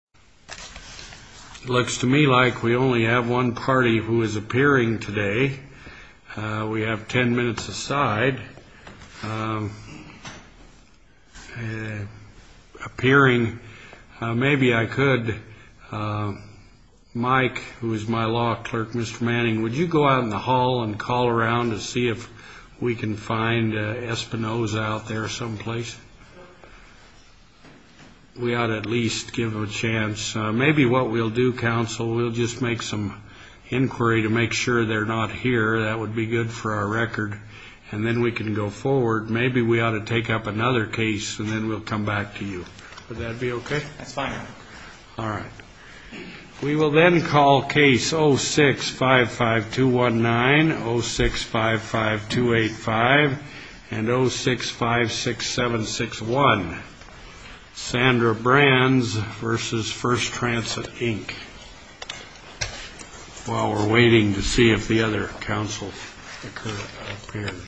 Looks to me like we only have one party who is appearing today. We have ten minutes aside. Appearing, maybe I could... Mike, who is my law clerk, Mr. Manning, would you go out in the hall and call around to see if we can find Espinosa out there someplace? We ought to at least give them a chance. Maybe what we'll do, counsel, we'll just make some inquiry to make sure they're not here. That would be good for our record. And then we can go forward. Maybe we ought to take up another case, and then we'll come back to you. Would that be okay? That's fine. All right. We will then call case 06-55219, 06-55285, and 06-56761. Sandra Brands v. First Transit, Inc. While we're waiting to see if the other counsel appears.